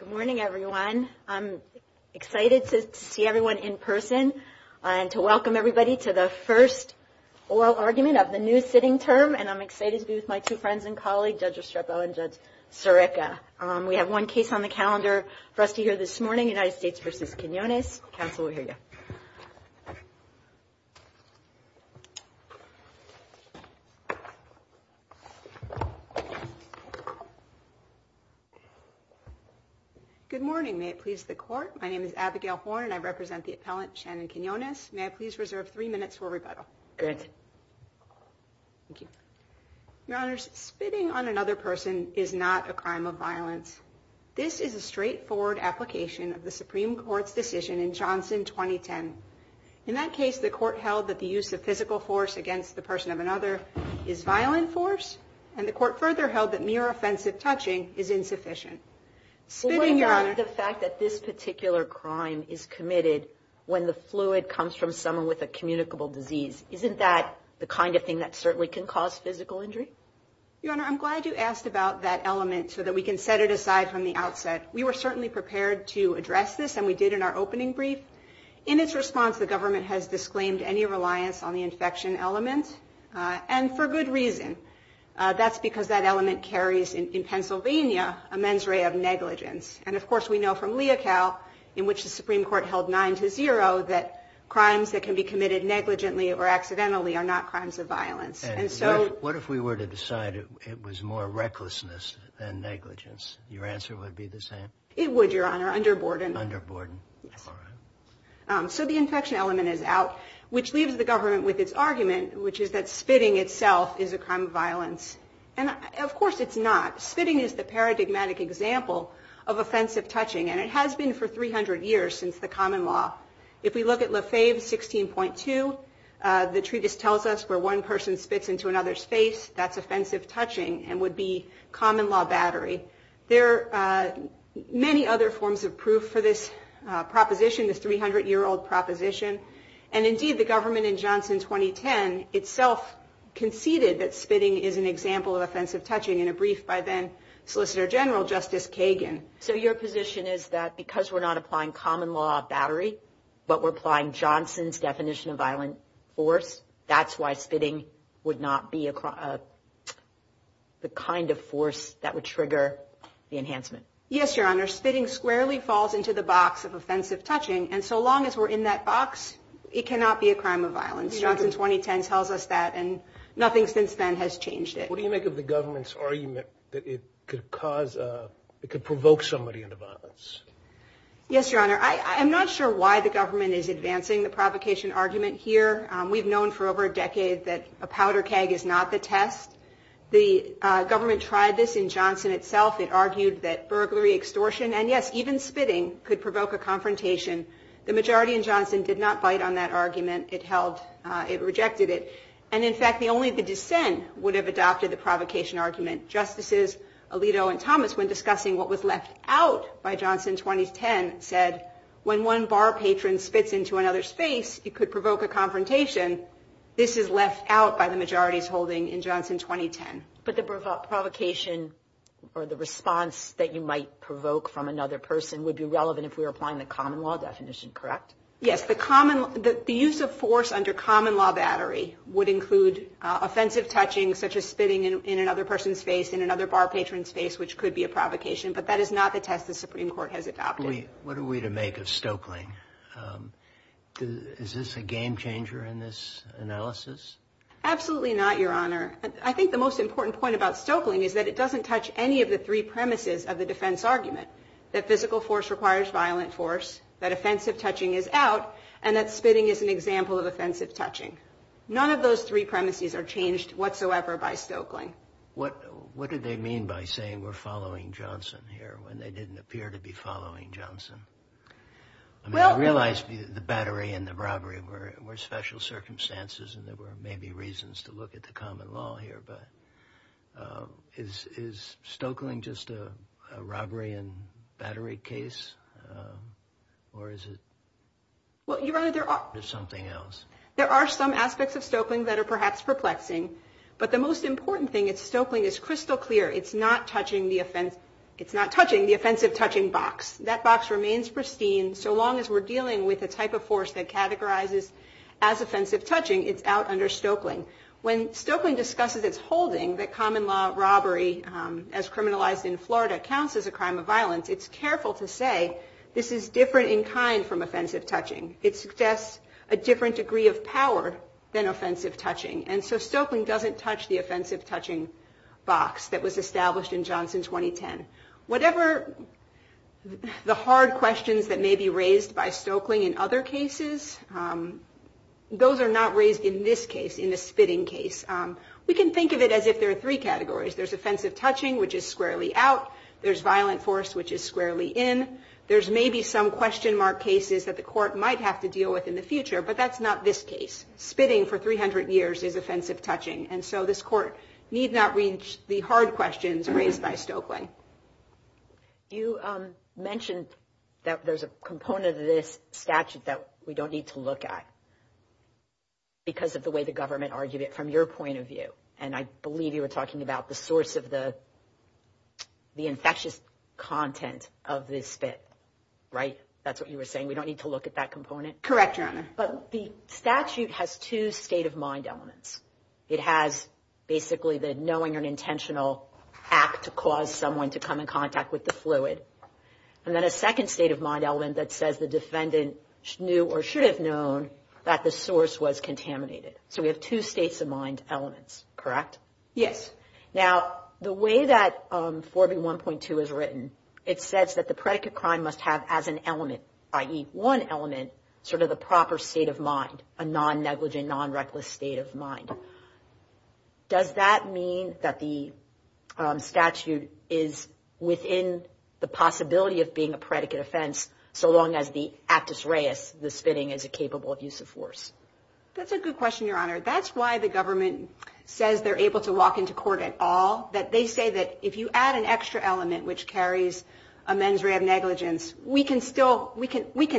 Good morning, everyone. I'm excited to see everyone in person and to welcome everybody to the first oral argument of the new sitting term. And I'm excited to be with my two friends and colleagues, Judge Estrepo and Judge Sirica. We have one case on the calendar for us to hear this morning, United States v. Quinnones. Counsel, we'll hear you. Good morning. May it please the Court. My name is Abigail Horn and I represent the appellant, Shannon Quinnones. May I please reserve three minutes for rebuttal? Good. Thank you. Your Honors, spitting on another person is not a crime of violence. This is a straightforward application of the Supreme Court's decision in Johnson 2010. In that case, the Court held that the use of physical force against the person of another is violent force. And the Court further held that mere offensive touching is insufficient. Spitting, Your Honor. But what about the fact that this particular crime is committed when the fluid comes from someone with a communicable disease? Isn't that the kind of thing that certainly can cause physical injury? Your Honor, I'm glad you asked about that element so that we can set it aside from the outset. We were certainly prepared to address this, and we did in our opening brief. In its response, the government has disclaimed any reliance on the infection element, and for good reason. That's because that element carries in Pennsylvania a mens rea of negligence. And, of course, we know from Leocal, in which the Supreme Court held 9 to 0, that crimes that can be committed negligently or accidentally are not crimes of violence. What if we were to decide it was more recklessness than negligence? Your answer would be the same? It would, Your Honor, under Borden. Under Borden. So the infection element is out, which leaves the government with its argument, which is that spitting itself is a crime of violence. And, of course, it's not. Spitting is the paradigmatic example of offensive touching, and it has been for 300 years since the common law. If we look at Lefebvre 16.2, the treatise tells us where one person spits into another's face, that's offensive touching and would be common law battery. There are many other forms of proof for this proposition, this 300-year-old proposition. And, indeed, the government in Johnson 2010 itself conceded that spitting is an example of offensive touching in a brief by then Solicitor General Justice Kagan. So your position is that because we're not applying common law battery, but we're applying Johnson's definition of violent force, that's why spitting would not be the kind of force that would trigger the enhancement? Yes, Your Honor. Spitting squarely falls into the box of offensive touching, and so long as we're in that box, it cannot be a crime of violence. Johnson 2010 tells us that, and nothing since then has changed it. What do you make of the government's argument that it could provoke somebody into violence? Yes, Your Honor. I'm not sure why the government is advancing the provocation argument here. We've known for over a decade that a powder keg is not the test. The government tried this in Johnson itself. It argued that burglary, extortion, and, yes, even spitting could provoke a confrontation. The majority in Johnson did not bite on that argument. It rejected it. And, in fact, only the dissent would have adopted the provocation argument. Justices Alito and Thomas, when discussing what was left out by Johnson 2010, said when one bar patron spits into another space, it could provoke a confrontation. This is left out by the majority's holding in Johnson 2010. But the provocation or the response that you might provoke from another person would be relevant if we were applying the common law definition, correct? Yes. The use of force under common law battery would include offensive touching, such as spitting in another person's face, in another bar patron's face, which could be a provocation. But that is not the test the Supreme Court has adopted. What are we to make of Stoeckling? Is this a game changer in this analysis? Absolutely not, Your Honor. I think the most important point about Stoeckling is that it doesn't touch any of the three premises of the defense argument, that physical force requires violent force, that offensive touching is out, and that spitting is an example of offensive touching. None of those three premises are changed whatsoever by Stoeckling. What did they mean by saying we're following Johnson here when they didn't appear to be following Johnson? I mean, I realize the battery and the robbery were special circumstances and there were maybe reasons to look at the common law here, but is Stoeckling just a robbery and battery case, or is it something else? There are some aspects of Stoeckling that are perhaps perplexing, but the most important thing is Stoeckling is crystal clear. It's not touching the offensive touching box. That box remains pristine so long as we're dealing with a type of force that categorizes as offensive touching. It's out under Stoeckling. When Stoeckling discusses its holding that common law robbery, as criminalized in Florida, counts as a crime of violence, it's careful to say this is different in kind from offensive touching. It suggests a different degree of power than offensive touching, and so Stoeckling doesn't touch the offensive touching box that was established in Johnson 2010. Whatever the hard questions that may be raised by Stoeckling in other cases, those are not raised in this case, in the spitting case. We can think of it as if there are three categories. There's offensive touching, which is squarely out. There's violent force, which is squarely in. There's maybe some question mark cases that the court might have to deal with in the future, but that's not this case. Spitting for 300 years is offensive touching, and so this court need not reach the hard questions raised by Stoeckling. You mentioned that there's a component of this statute that we don't need to look at because of the way the government argued it from your point of view, and I believe you were talking about the source of the infectious content of the spit, right? That's what you were saying. We don't need to look at that component? Correct, Your Honor. But the statute has two state-of-mind elements. It has basically the knowing an intentional act to cause someone to come in contact with the fluid, and then a second state-of-mind element that says the defendant knew or should have known that the source was contaminated. So we have two state-of-mind elements, correct? Yes. Now, the way that 4B1.2 is written, it says that the predicate crime must have as an element, i.e., one element, sort of the proper state of mind, a non-negligent, non-reckless state of mind. Does that mean that the statute is within the possibility of being a predicate offense? So long as the aptus reis, the spitting, is a capable abuse of force? That's a good question, Your Honor. That's why the government says they're able to walk into court at all, that they say that if you add an extra element which carries a mens rea of negligence, we can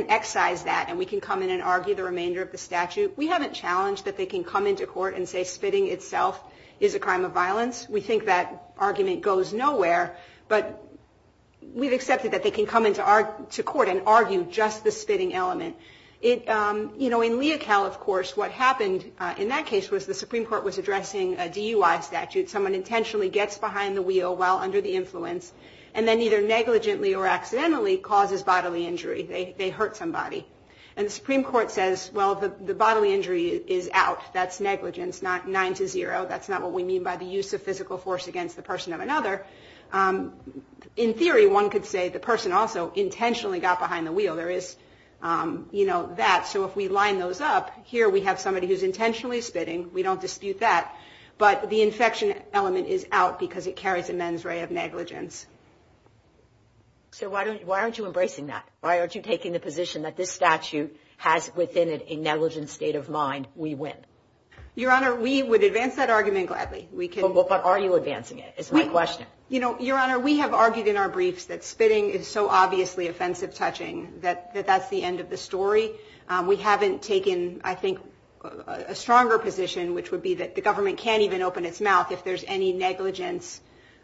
excise that and we can come in and argue the remainder of the statute. We haven't challenged that they can come into court and say spitting itself is a crime of violence. We think that argument goes nowhere, but we've accepted that they can come into court and argue just the spitting element. In Leocal, of course, what happened in that case was the Supreme Court was addressing a DUI statute, someone intentionally gets behind the wheel while under the influence and then either negligently or accidentally causes bodily injury. They hurt somebody. And the Supreme Court says, well, the bodily injury is out. That's negligence, not 9-0. That's not what we mean by the use of physical force against the person of another. In theory, one could say the person also intentionally got behind the wheel. There is, you know, that. So if we line those up, here we have somebody who's intentionally spitting. We don't dispute that. But the infection element is out because it carries a mens rea of negligence. So why aren't you embracing that? Why aren't you taking the position that this statute has within it a negligent state of mind, we win? Your Honor, we would advance that argument gladly. But are you advancing it is my question. You know, Your Honor, we have argued in our briefs that spitting is so obviously offensive touching that that's the end of the story. We haven't taken, I think, a stronger position, which would be that the government can't even open its mouth if there's any negligence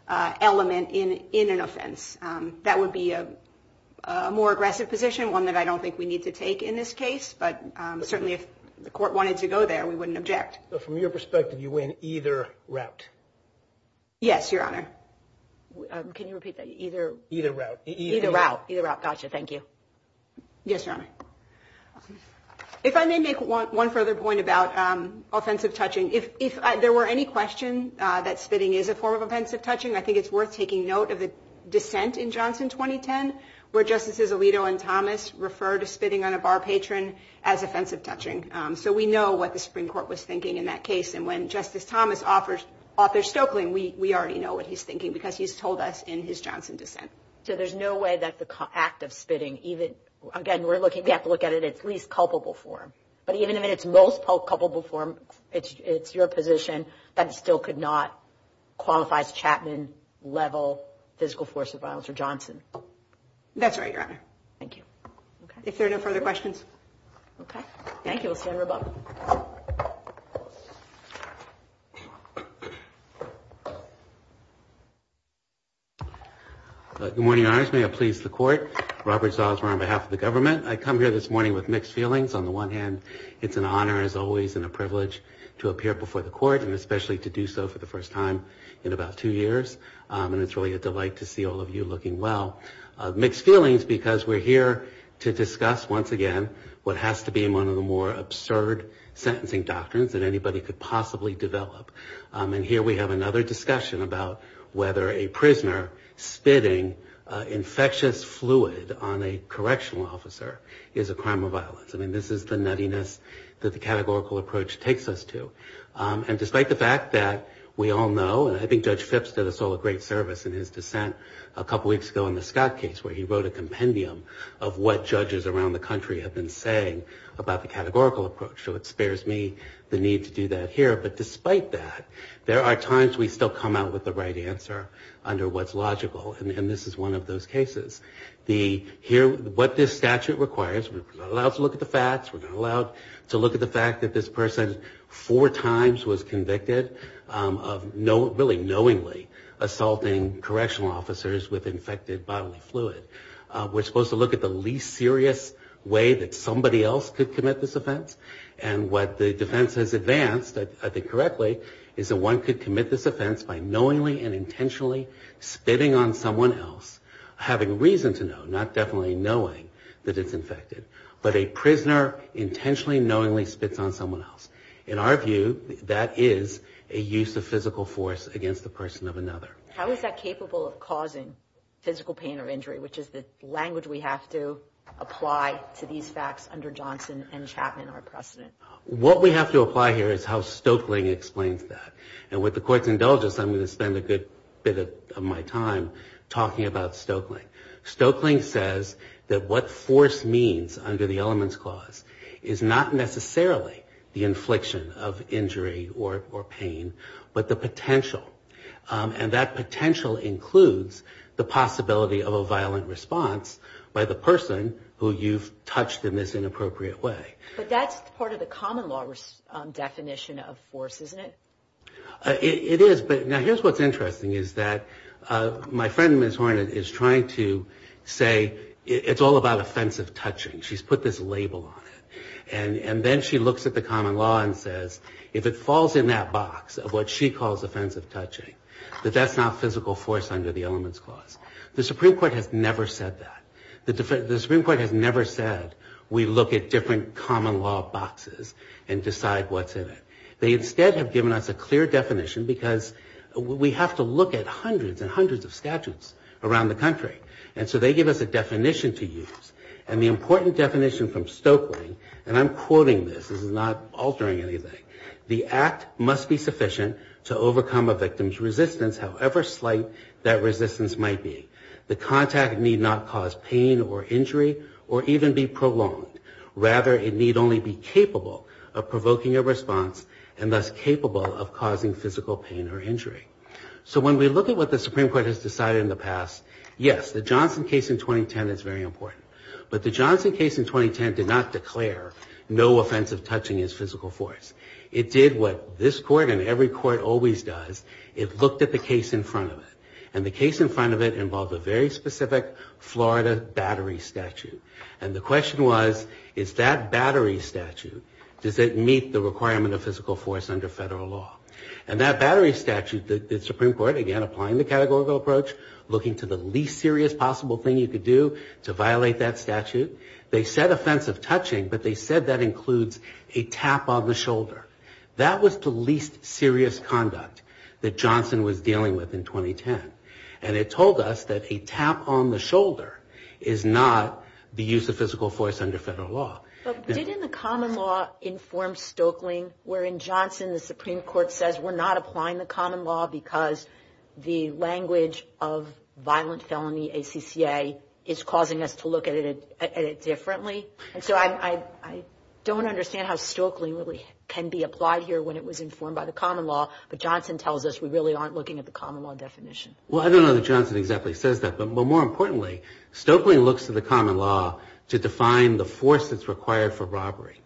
element in an offense. That would be a more aggressive position, one that I don't think we need to take in this case. But certainly if the court wanted to go there, we wouldn't object. So from your perspective, you win either route? Yes, Your Honor. Can you repeat that? Either route. Either route. Either route. Gotcha. Thank you. Yes, Your Honor. If I may make one further point about offensive touching. If there were any question that spitting is a form of offensive touching, I think it's worth taking note of the dissent in Johnson 2010 where Justices Alito and Thomas referred to spitting on a bar patron as offensive touching. So we know what the Supreme Court was thinking in that case. And when Justice Thomas offers Arthur Stoeckling, we already know what he's thinking because he's told us in his Johnson dissent. So there's no way that the act of spitting, again, we have to look at it in its least culpable form. But even in its most culpable form, it's your position that it still could not qualify as Chapman-level physical force of violence or Johnson. That's right, Your Honor. Thank you. If there are no further questions. Okay. Thank you. We'll stand rebuttal. Thank you. Good morning, Your Honors. May it please the Court. Robert Salzman on behalf of the government. I come here this morning with mixed feelings. On the one hand, it's an honor, as always, and a privilege to appear before the Court and especially to do so for the first time in about two years. And it's really a delight to see all of you looking well. Mixed feelings because we're here to discuss, once again, what has to be one of the more absurd sentencing doctrines that anybody could possibly develop. And here we have another discussion about whether a prisoner spitting infectious fluid on a correctional officer is a crime of violence. I mean, this is the nuttiness that the categorical approach takes us to. And despite the fact that we all know, and I think Judge Phipps did us all a great service in his dissent a couple weeks ago in the Scott case where he wrote a compendium of what judges around the country have been saying about the categorical approach. So it spares me the need to do that here. But despite that, there are times we still come out with the right answer under what's logical. And this is one of those cases. What this statute requires, we're not allowed to look at the facts, we're not allowed to look at the fact that this person four times was convicted of really knowingly assaulting correctional officers with infected bodily fluid. We're supposed to look at the least serious way that somebody else could commit this offense. And what the defense has advanced, I think correctly, is that one could commit this offense by knowingly and intentionally spitting on someone else, having reason to know, not definitely knowing that it's infected. But a prisoner intentionally, knowingly spits on someone else. In our view, that is a use of physical force against the person of another. How is that capable of causing physical pain or injury, which is the language we have to apply to these facts under Johnson and Chapman, our precedent? What we have to apply here is how Stoeckling explains that. And with the court's indulgence, I'm going to spend a good bit of my time talking about Stoeckling. Stoeckling says that what force means under the elements clause is not necessarily the infliction of injury or pain, but the potential. And that potential includes the possibility of a violent response by the person who you've touched in this inappropriate way. But that's part of the common law definition of force, isn't it? It is. Now, here's what's interesting is that my friend, Ms. Hornet, is trying to say it's all about offensive touching. She's put this label on it. And then she looks at the common law and says, if it falls in that box of what she calls offensive touching, that that's not physical force under the elements clause. The Supreme Court has never said that. The Supreme Court has never said we look at different common law boxes and decide what's in it. They instead have given us a clear definition, because we have to look at hundreds and hundreds of statutes around the country. And so they give us a definition to use. And the important definition from Stoeckling, and I'm quoting this, this is not altering anything, the act must be sufficient to overcome a victim's resistance, however slight that resistance might be. The contact need not cause pain or injury or even be prolonged. Rather, it need only be capable of provoking a response and thus capable of causing physical pain or injury. So when we look at what the Supreme Court has decided in the past, yes, the Johnson case in 2010 is very important. But the Johnson case in 2010 did not declare no offensive touching as physical force. It did what this court and every court always does. It looked at the case in front of it. And the case in front of it involved a very specific Florida battery statute. And the question was, is that battery statute, does it meet the requirement of physical force under federal law? And that battery statute, the Supreme Court, again, applying the categorical approach, looking to the least serious possible thing you could do to violate that statute, they said offensive touching, but they said that includes a tap on the shoulder. That was the least serious conduct that Johnson was dealing with in 2010. And it told us that a tap on the shoulder is not the use of physical force under federal law. But didn't the common law inform Stoeckling wherein Johnson, the Supreme Court, says we're not applying the common law because the language of violent felony, ACCA, is causing us to look at it differently? And so I don't understand how Stoeckling really can be applied here when it was informed by the common law, but Johnson tells us we really aren't looking at the common law definition. Well, I don't know that Johnson exactly says that. But more importantly, Stoeckling looks to the common law to define the force that's required for robbery.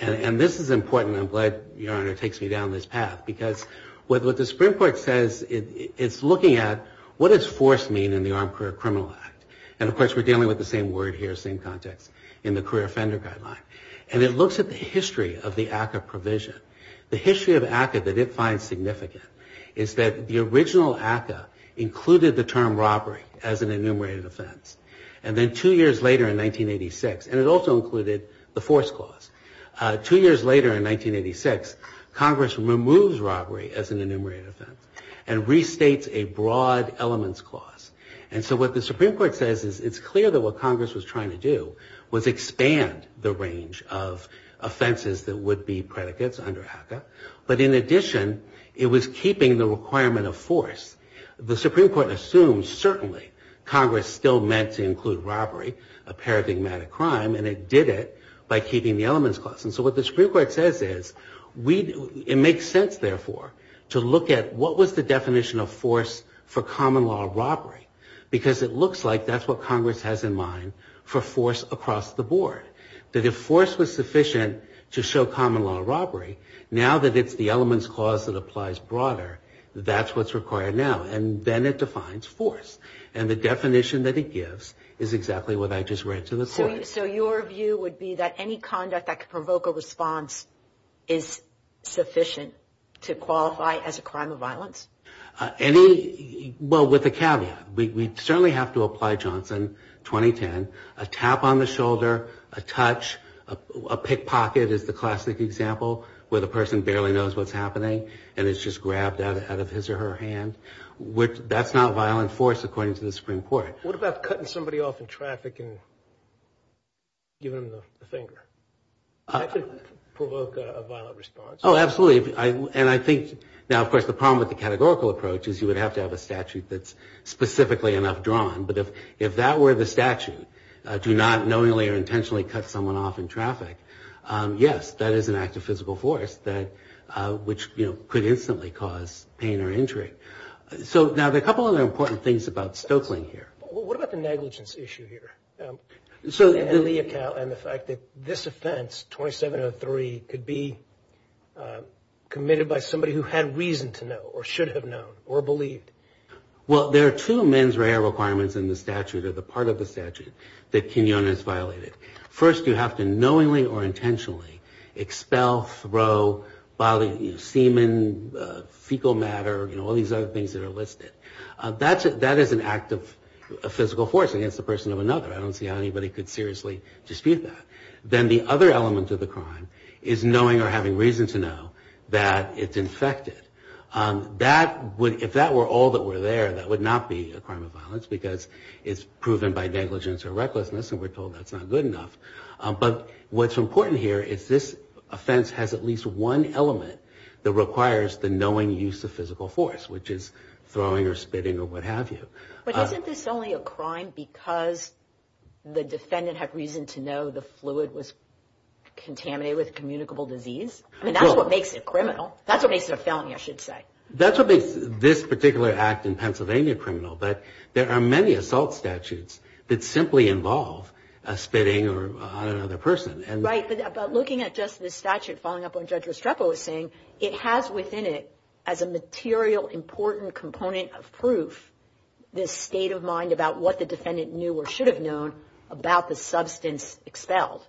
And this is important. I'm glad, Your Honor, it takes me down this path. Because what the Supreme Court says, it's looking at what does force mean in the Armed Career Criminal Act. And, of course, we're dealing with the same word here, same context, in the career offender guideline. And it looks at the history of the ACCA provision. The history of ACCA that it finds significant is that the original ACCA included the term robbery as an enumerated offense. And then two years later in 1986, and it also included the force clause, two years later in 1986, Congress removes robbery as an enumerated offense and restates a broad elements clause. And so what the Supreme Court says is it's clear that what Congress was trying to do was expand the range of offenses that would be predicates under ACCA. But in addition, it was keeping the requirement of force. The Supreme Court assumes certainly Congress still meant to include robbery, a paradigmatic crime, and it did it by keeping the elements clause. And so what the Supreme Court says is it makes sense, therefore, to look at what was the definition of force for common law robbery. Because it looks like that's what Congress has in mind for force across the board. That if force was sufficient to show common law robbery, now that it's the elements clause that applies broader, that's what's required now. And then it defines force. And the definition that it gives is exactly what I just read to the court. So your view would be that any conduct that could provoke a response is sufficient to qualify as a crime of violence? Well, with a caveat. We certainly have to apply Johnson 2010. A tap on the shoulder, a touch, a pickpocket is the classic example where the person barely knows what's happening and it's just grabbed out of his or her hand. That's not violent force according to the Supreme Court. What about cutting somebody off in traffic and giving them the finger? That could provoke a violent response. Oh, absolutely. And I think now, of course, the problem with the categorical approach is you would have to have a statute that's specifically enough drawn. But if that were the statute, do not knowingly or intentionally cut someone off in traffic, yes, that is an act of physical force which could instantly cause pain or injury. So now there are a couple other important things about Stoeckling here. What about the negligence issue here? And the fact that this offense, 2703, could be committed by somebody who had reason to know or should have known or believed. Well, there are two mens rea requirements in the statute or the part of the statute that quinone is violated. First, you have to knowingly or intentionally expel, throw, violate semen, fecal matter, and all these other things that are listed. That is an act of physical force against the person of another. I don't see how anybody could seriously dispute that. Then the other element of the crime is knowing or having reason to know that it's infected. If that were all that were there, that would not be a crime of violence because it's proven by negligence or recklessness and we're told that's not good enough. But what's important here is this offense has at least one element that requires the knowing use of physical force, which is throwing or spitting or what have you. But isn't this only a crime because the defendant had reason to know the fluid was contaminated with communicable disease? I mean, that's what makes it criminal. That's what makes it a felony, I should say. That's what makes this particular act in Pennsylvania criminal. But there are many assault statutes that simply involve spitting on another person. Right, but looking at just this statute following up on Judge Restrepo was saying it has within it as a material, important component of proof this state of mind about what the defendant knew or should have known about the substance expelled.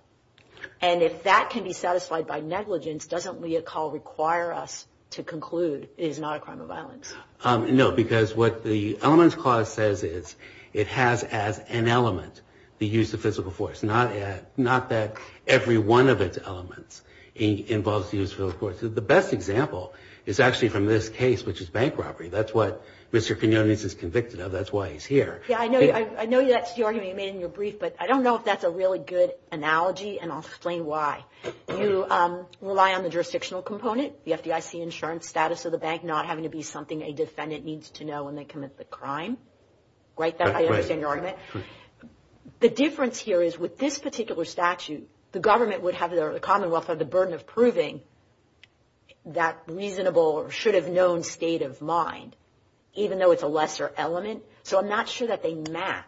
And if that can be satisfied by negligence, doesn't Leocal require us to conclude it is not a crime of violence? No, because what the Elements Clause says is it has as an element the use of physical force. Not that every one of its elements involves the use of physical force. The best example is actually from this case, which is bank robbery. That's what Mr. Quinones is convicted of. That's why he's here. Yeah, I know that's the argument you made in your brief, but I don't know if that's a really good analogy, and I'll explain why. You rely on the jurisdictional component, the FDIC insurance status of the bank, not having to be something a defendant needs to know when they commit the crime. Right, I understand your argument. But the difference here is with this particular statute, the government would have or the Commonwealth would have the burden of proving that reasonable or should have known state of mind, even though it's a lesser element. So I'm not sure that they map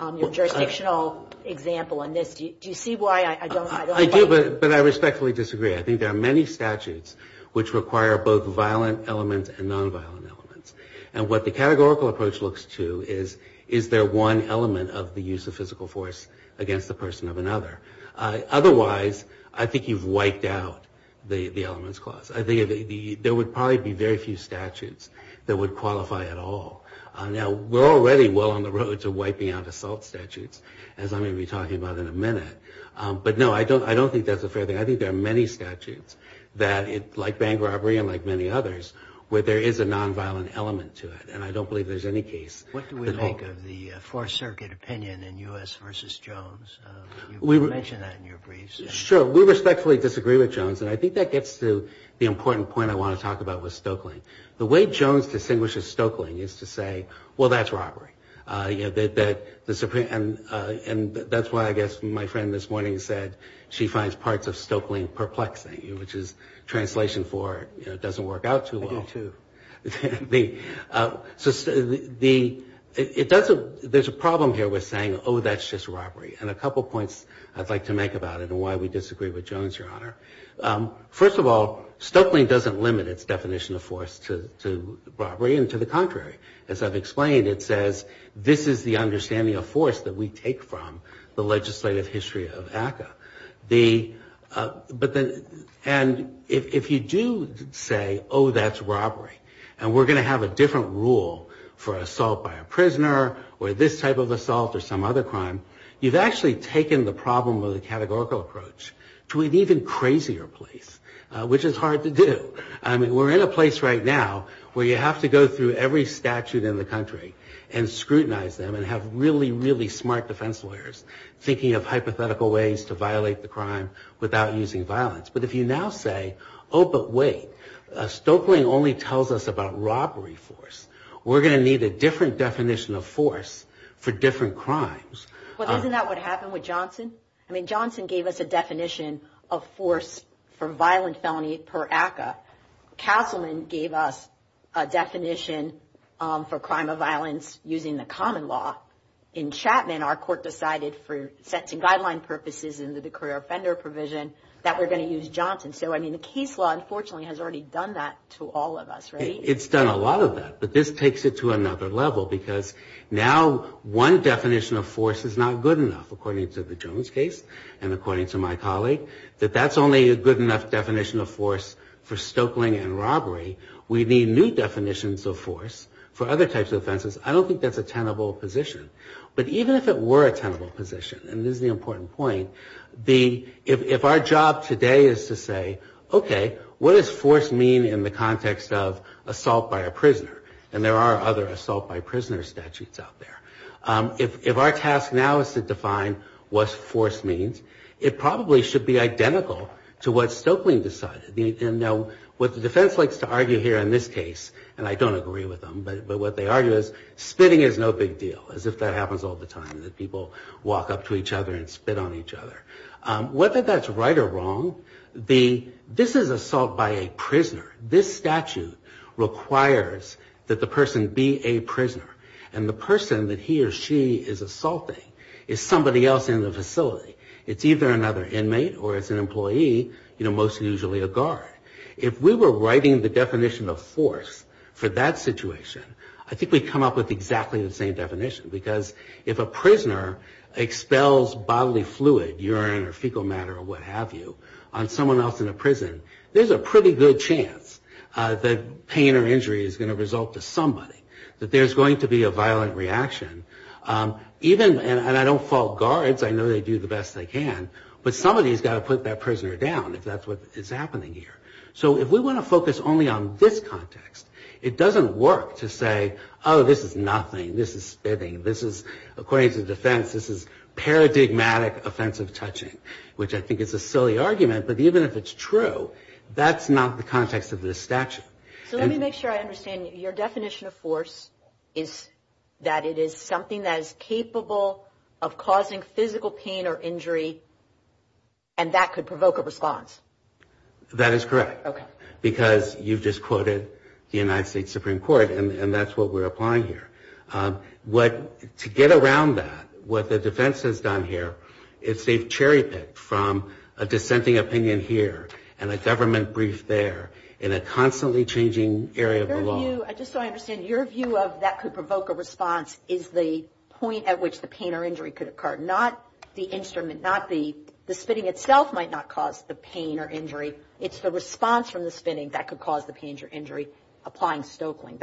your jurisdictional example in this. Do you see why I don't like it? I do, but I respectfully disagree. I think there are many statutes which require both violent elements and nonviolent elements. And what the categorical approach looks to is, is there one element of the use of physical force against the person of another? Otherwise, I think you've wiped out the elements clause. I think there would probably be very few statutes that would qualify at all. Now, we're already well on the road to wiping out assault statutes, as I'm going to be talking about in a minute. But no, I don't think that's a fair thing. I think there are many statutes that, like bank robbery and like many others, where there is a nonviolent element to it. And I don't believe there's any case. What do we make of the Fourth Circuit opinion in U.S. v. Jones? You mentioned that in your briefs. Sure. We respectfully disagree with Jones. And I think that gets to the important point I want to talk about with Stoeckling. The way Jones distinguishes Stoeckling is to say, well, that's robbery. And that's why, I guess, my friend this morning said she finds parts of Stoeckling perplexing, which is translation for, you know, it doesn't work out too well. I do, too. There's a problem here with saying, oh, that's just robbery. And a couple points I'd like to make about it and why we disagree with Jones, Your Honor. First of all, Stoeckling doesn't limit its definition of force to robbery and to the contrary. As I've explained, it says this is the understanding of force that we take from the legislative history of ACCA. And if you do say, oh, that's robbery, and we're going to have a different rule for assault by a prisoner or this type of assault or some other crime, you've actually taken the problem of the categorical approach to an even crazier place, which is hard to do. I mean, we're in a place right now where you have to go through every statute in the country and scrutinize them and have really, really smart defense lawyers thinking of hypothetical ways to violate the crime without using violence. But if you now say, oh, but wait, Stoeckling only tells us about robbery force. We're going to need a different definition of force for different crimes. Well, isn't that what happened with Johnson? I mean, Johnson gave us a definition of force for violent felony per ACCA. Councilman gave us a definition for crime of violence using the common law in Chapman. Our court decided for sentencing guideline purposes and the career offender provision that we're going to use Johnson. So, I mean, the case law, unfortunately, has already done that to all of us, right? It's done a lot of that, but this takes it to another level because now one definition of force is not good enough, according to the Jones case and according to my colleague, that that's only a good enough definition of force for Stoeckling and robbery. We need new definitions of force for other types of offenses. I don't think that's a tenable position. But even if it were a tenable position, and this is the important point, if our job today is to say, okay, what does force mean in the context of assault by a prisoner? And there are other assault by prisoner statutes out there. If our task now is to define what force means, it probably should be identical to what Stoeckling decided. Now, what the defense likes to argue here in this case, and I don't agree with them, but what they argue is spitting is no big deal, as if that happens all the time, that people walk up to each other and spit on each other. Whether that's right or wrong, this is assault by a prisoner. This statute requires that the person be a prisoner. And the person that he or she is assaulting is somebody else in the facility. It's either another inmate or it's an employee, most usually a guard. If we were writing the definition of force for that situation, I think we'd come up with exactly the same definition. Because if a prisoner expels bodily fluid, urine or fecal matter or what have you, on someone else in a prison, there's a pretty good chance that pain or injury is going to result to somebody, that there's going to be a violent reaction. Even, and I don't fault guards, I know they do the best they can, but somebody's got to put that prisoner down, if that's what is happening here. So if we want to focus only on this context, it doesn't work to say, oh, this is nothing, this is spitting, this is, according to the defense, this is paradigmatic offensive touching, which I think is a silly argument, but even if it's true, that's not the context of this statute. So let me make sure I understand you. Your definition of force is that it is something that is capable of causing physical pain or injury, and that could provoke a response. That is correct. Because you've just quoted the United States Supreme Court, and that's what we're applying here. To get around that, what the defense has done here, it's a cherry pick from a dissenting opinion here, and a government brief there, in a constantly changing area of the law. Just so I understand, your view of that could provoke a response is the point at which the pain or injury could occur, not the instrument, not the spitting itself might not cause the pain or injury, it's the response from the spitting that could cause the pain or injury, applying Stoeckling.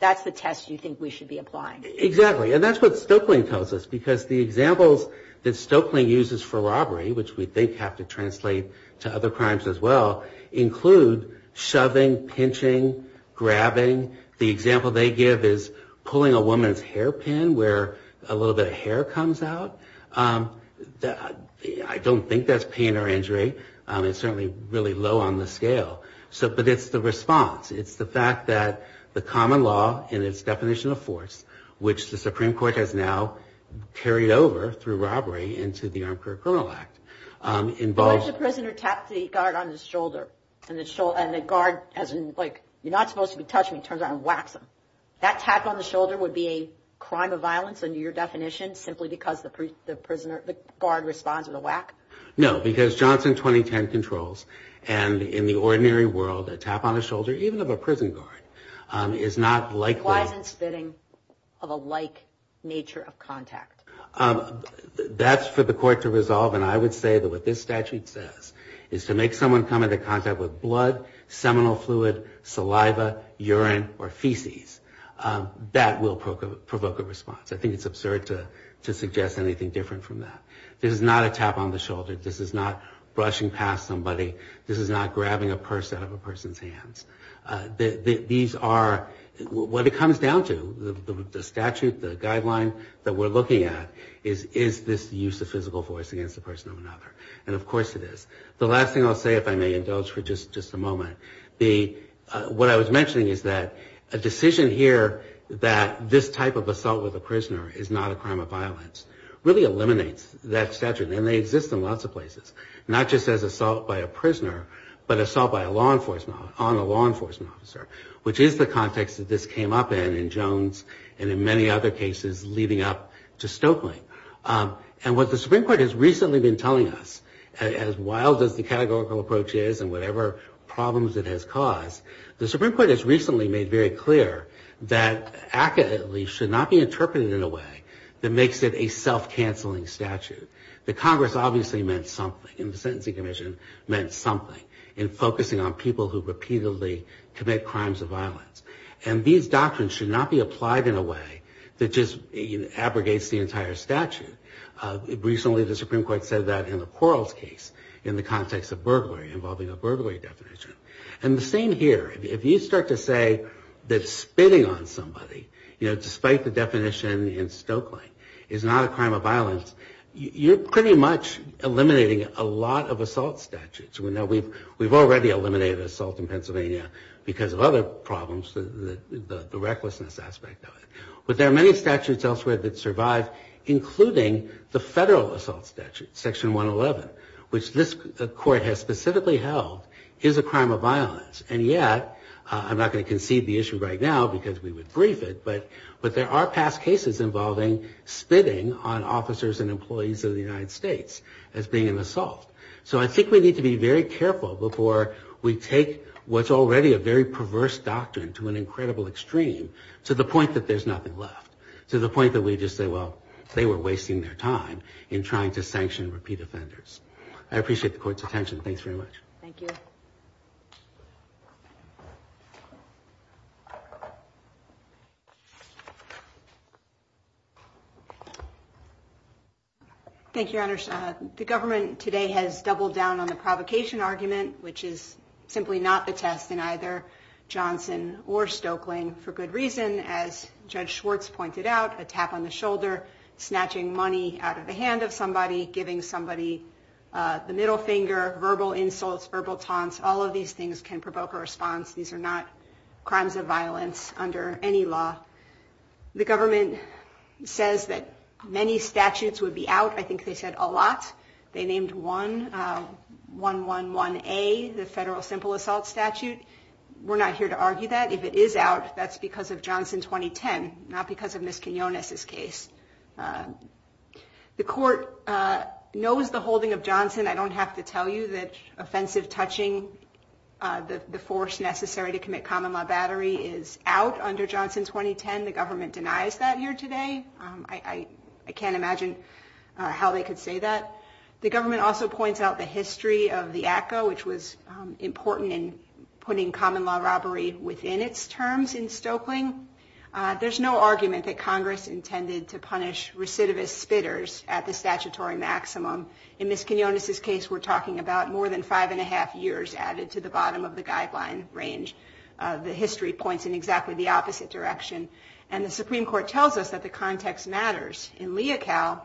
That's the test you think we should be applying. Exactly, and that's what Stoeckling tells us, because the examples that Stoeckling uses for robbery, which we think have to translate to other crimes as well, include shoving, pinching, grabbing. The example they give is pulling a woman's hairpin where a little bit of hair comes out. I don't think that's pain or injury. It's certainly really low on the scale. But it's the response. It's the fact that the common law in its definition of force, which the Supreme Court has now carried over through robbery into the Armed Career Criminal Act. Why does the prisoner tap the guard on his shoulder and the guard, as in, like, you're not supposed to touch me, turns around and whacks him? That tap on the shoulder would be a crime of violence under your definition simply because the guard responds with a whack? No, because Johnson 2010 controls, and in the ordinary world, a tap on the shoulder, even of a prison guard, is not likely... Why isn't spitting of a like nature of contact? That's for the court to resolve, and I would say that what this statute says is to make someone come into contact with blood, seminal fluid, saliva, urine, or feces. That will provoke a response. I think it's absurd to suggest anything different from that. This is not a tap on the shoulder. This is not brushing past somebody. This is not grabbing a purse out of a person's hands. These are, what it comes down to, the statute, the guideline that we're looking at is, is this the use of physical force against a person or another, and of course it is. The last thing I'll say, if I may indulge for just a moment, what I was mentioning is that a decision here that this type of assault with a prisoner is not a crime of violence really eliminates that statute, and they exist in lots of places, not just as assault by a prisoner, but assault on a law enforcement officer, which is the context that this came up in in Jones and in many other cases leading up to Stokely. And what the Supreme Court has recently been telling us, as wild as the categorical approach is and whatever problems it has caused, the Supreme Court has recently made very clear that ACCA, at least, should not be interpreted in a way that makes it a self-canceling statute. The Congress obviously meant something, and the Sentencing Commission meant something in focusing on people who repeatedly commit crimes of violence. And these doctrines should not be applied in a way that just abrogates the entire statute. Recently the Supreme Court said that in the Quarles case in the context of burglary, involving a burglary definition. And the same here. If you start to say that spitting on somebody, despite the definition in Stokely, is not a crime of violence, you're pretty much eliminating a lot of assault statutes. We've already eliminated assault in Pennsylvania because of other problems, the recklessness aspect of it. But there are many statutes elsewhere that survive, including the federal assault statute, Section 111, which this Court has specifically held is a crime of violence. And yet, I'm not going to concede the issue right now because we would brief it, but there are past cases involving spitting on officers and employees of the United States as being an assault. So I think we need to be very careful before we take what's already a very perverse doctrine to an incredible extreme to the point that there's nothing left. To the point that we just say, well, they were wasting their time in trying to sanction repeat offenders. I appreciate the Court's attention. Thanks very much. Thank you. Thank you, Your Honor. The government today has doubled down on the provocation argument, which is simply not the test in either Johnson or Stokely, for good reason, as Judge Schwartz pointed out, a tap on the shoulder, snatching money out of the hand of somebody, giving somebody the middle finger, verbal insults, verbal taunts, all of these things can provoke a response. These are not crimes of violence under any law. The government says that many statutes would be out. I think they said a lot. They named one, 111A, the federal simple assault statute. We're not here to argue that. If it is out, that's because of Johnson 2010, not because of Ms. Quinones's case. The court knows the holding of Johnson. I don't have to tell you that offensive touching, the force necessary to commit common law battery, is out under Johnson 2010. The government denies that here today. I can't imagine how they could say that. The government also points out the history of the ACCA, which was important in putting common law robbery within its terms in Stokely. There's no argument that Congress intended to punish recidivist spitters at the statutory maximum. In Ms. Quinones's case, we're talking about more than five and a half years added to the bottom of the guideline range. The history points in exactly the opposite direction. The Supreme Court tells us that the context matters. In Leocal,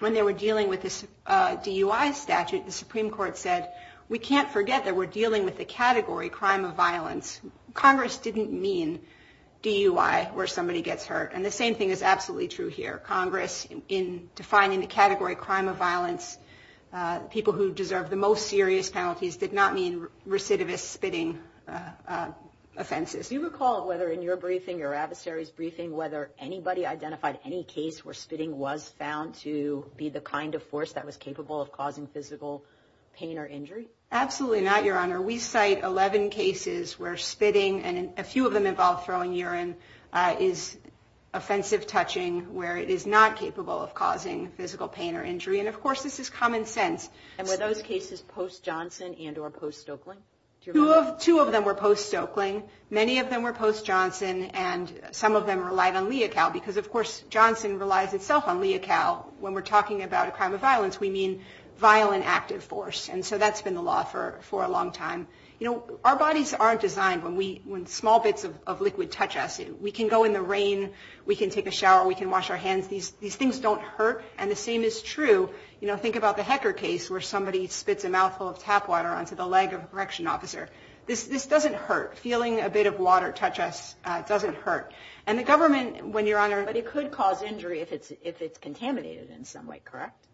when they were dealing with this DUI statute, the Supreme Court said, we can't forget that we're dealing with the category crime of violence. Congress didn't mean DUI, where somebody gets hurt. And the same thing is absolutely true here. Congress, in defining the category crime of violence, people who deserve the most serious penalties, did not mean recidivist spitting offenses. Do you recall whether in your briefing, your adversary's briefing, whether anybody identified any case where spitting was found to be the kind of force that was capable of causing physical pain or injury? Absolutely not, Your Honor. We cite 11 cases where spitting, and a few of them involve throwing urine, is offensive touching, where it is not capable of causing physical pain or injury. And of course, this is common sense. And were those cases post-Johnson and or post-Stokeling? Two of them were post-Stokeling. Many of them were post-Johnson, and some of them relied on Leocal, because of course, Johnson relies itself on Leocal. When we're talking about a crime of violence, we mean violent active force. And so that's been the law for a long time. Our bodies aren't designed when small bits of liquid touch us. We can go in the rain. We can take a shower. We can wash our hands. These things don't hurt, and the same is true. Think about the Hecker case where somebody spits a mouthful of tap water onto the leg of a correction officer. This doesn't hurt. Feeling a bit of water touch us doesn't hurt. But it could cause injury if it's contaminated in some way, correct?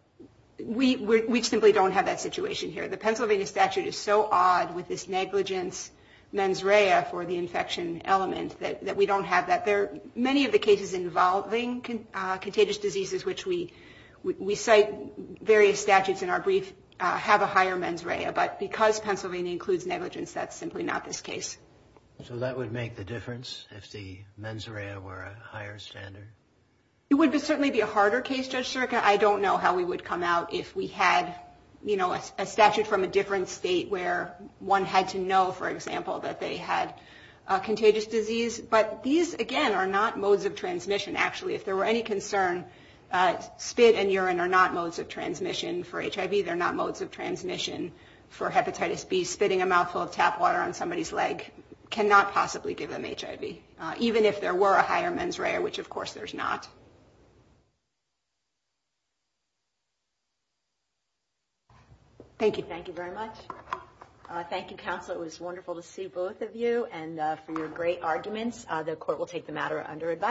We simply don't have that situation here. The Pennsylvania statute is so odd with this negligence mens rea for the infection element that we don't have that. Many of the cases involving contagious diseases, which we cite various statutes in our brief, have a higher mens rea. But because Pennsylvania includes negligence, that's simply not this case. So that would make the difference if the mens rea were a higher standard? It would certainly be a harder case, Judge Circa. I don't know how we would come out if we had, you know, a statute from a different state where one had to know, for example, that they had a contagious disease. But these, again, are not modes of transmission, actually. If there were any concern, spit and urine are not modes of transmission. For HIV, they're not modes of transmission. For hepatitis B, spitting a mouthful of tap water on somebody's leg cannot possibly give them HIV, even if there were a higher mens rea, which, of course, there's not. Thank you. Thank you very much. Thank you, counsel. It was wonderful to see both of you and for your great arguments. The court will take the matter under advice.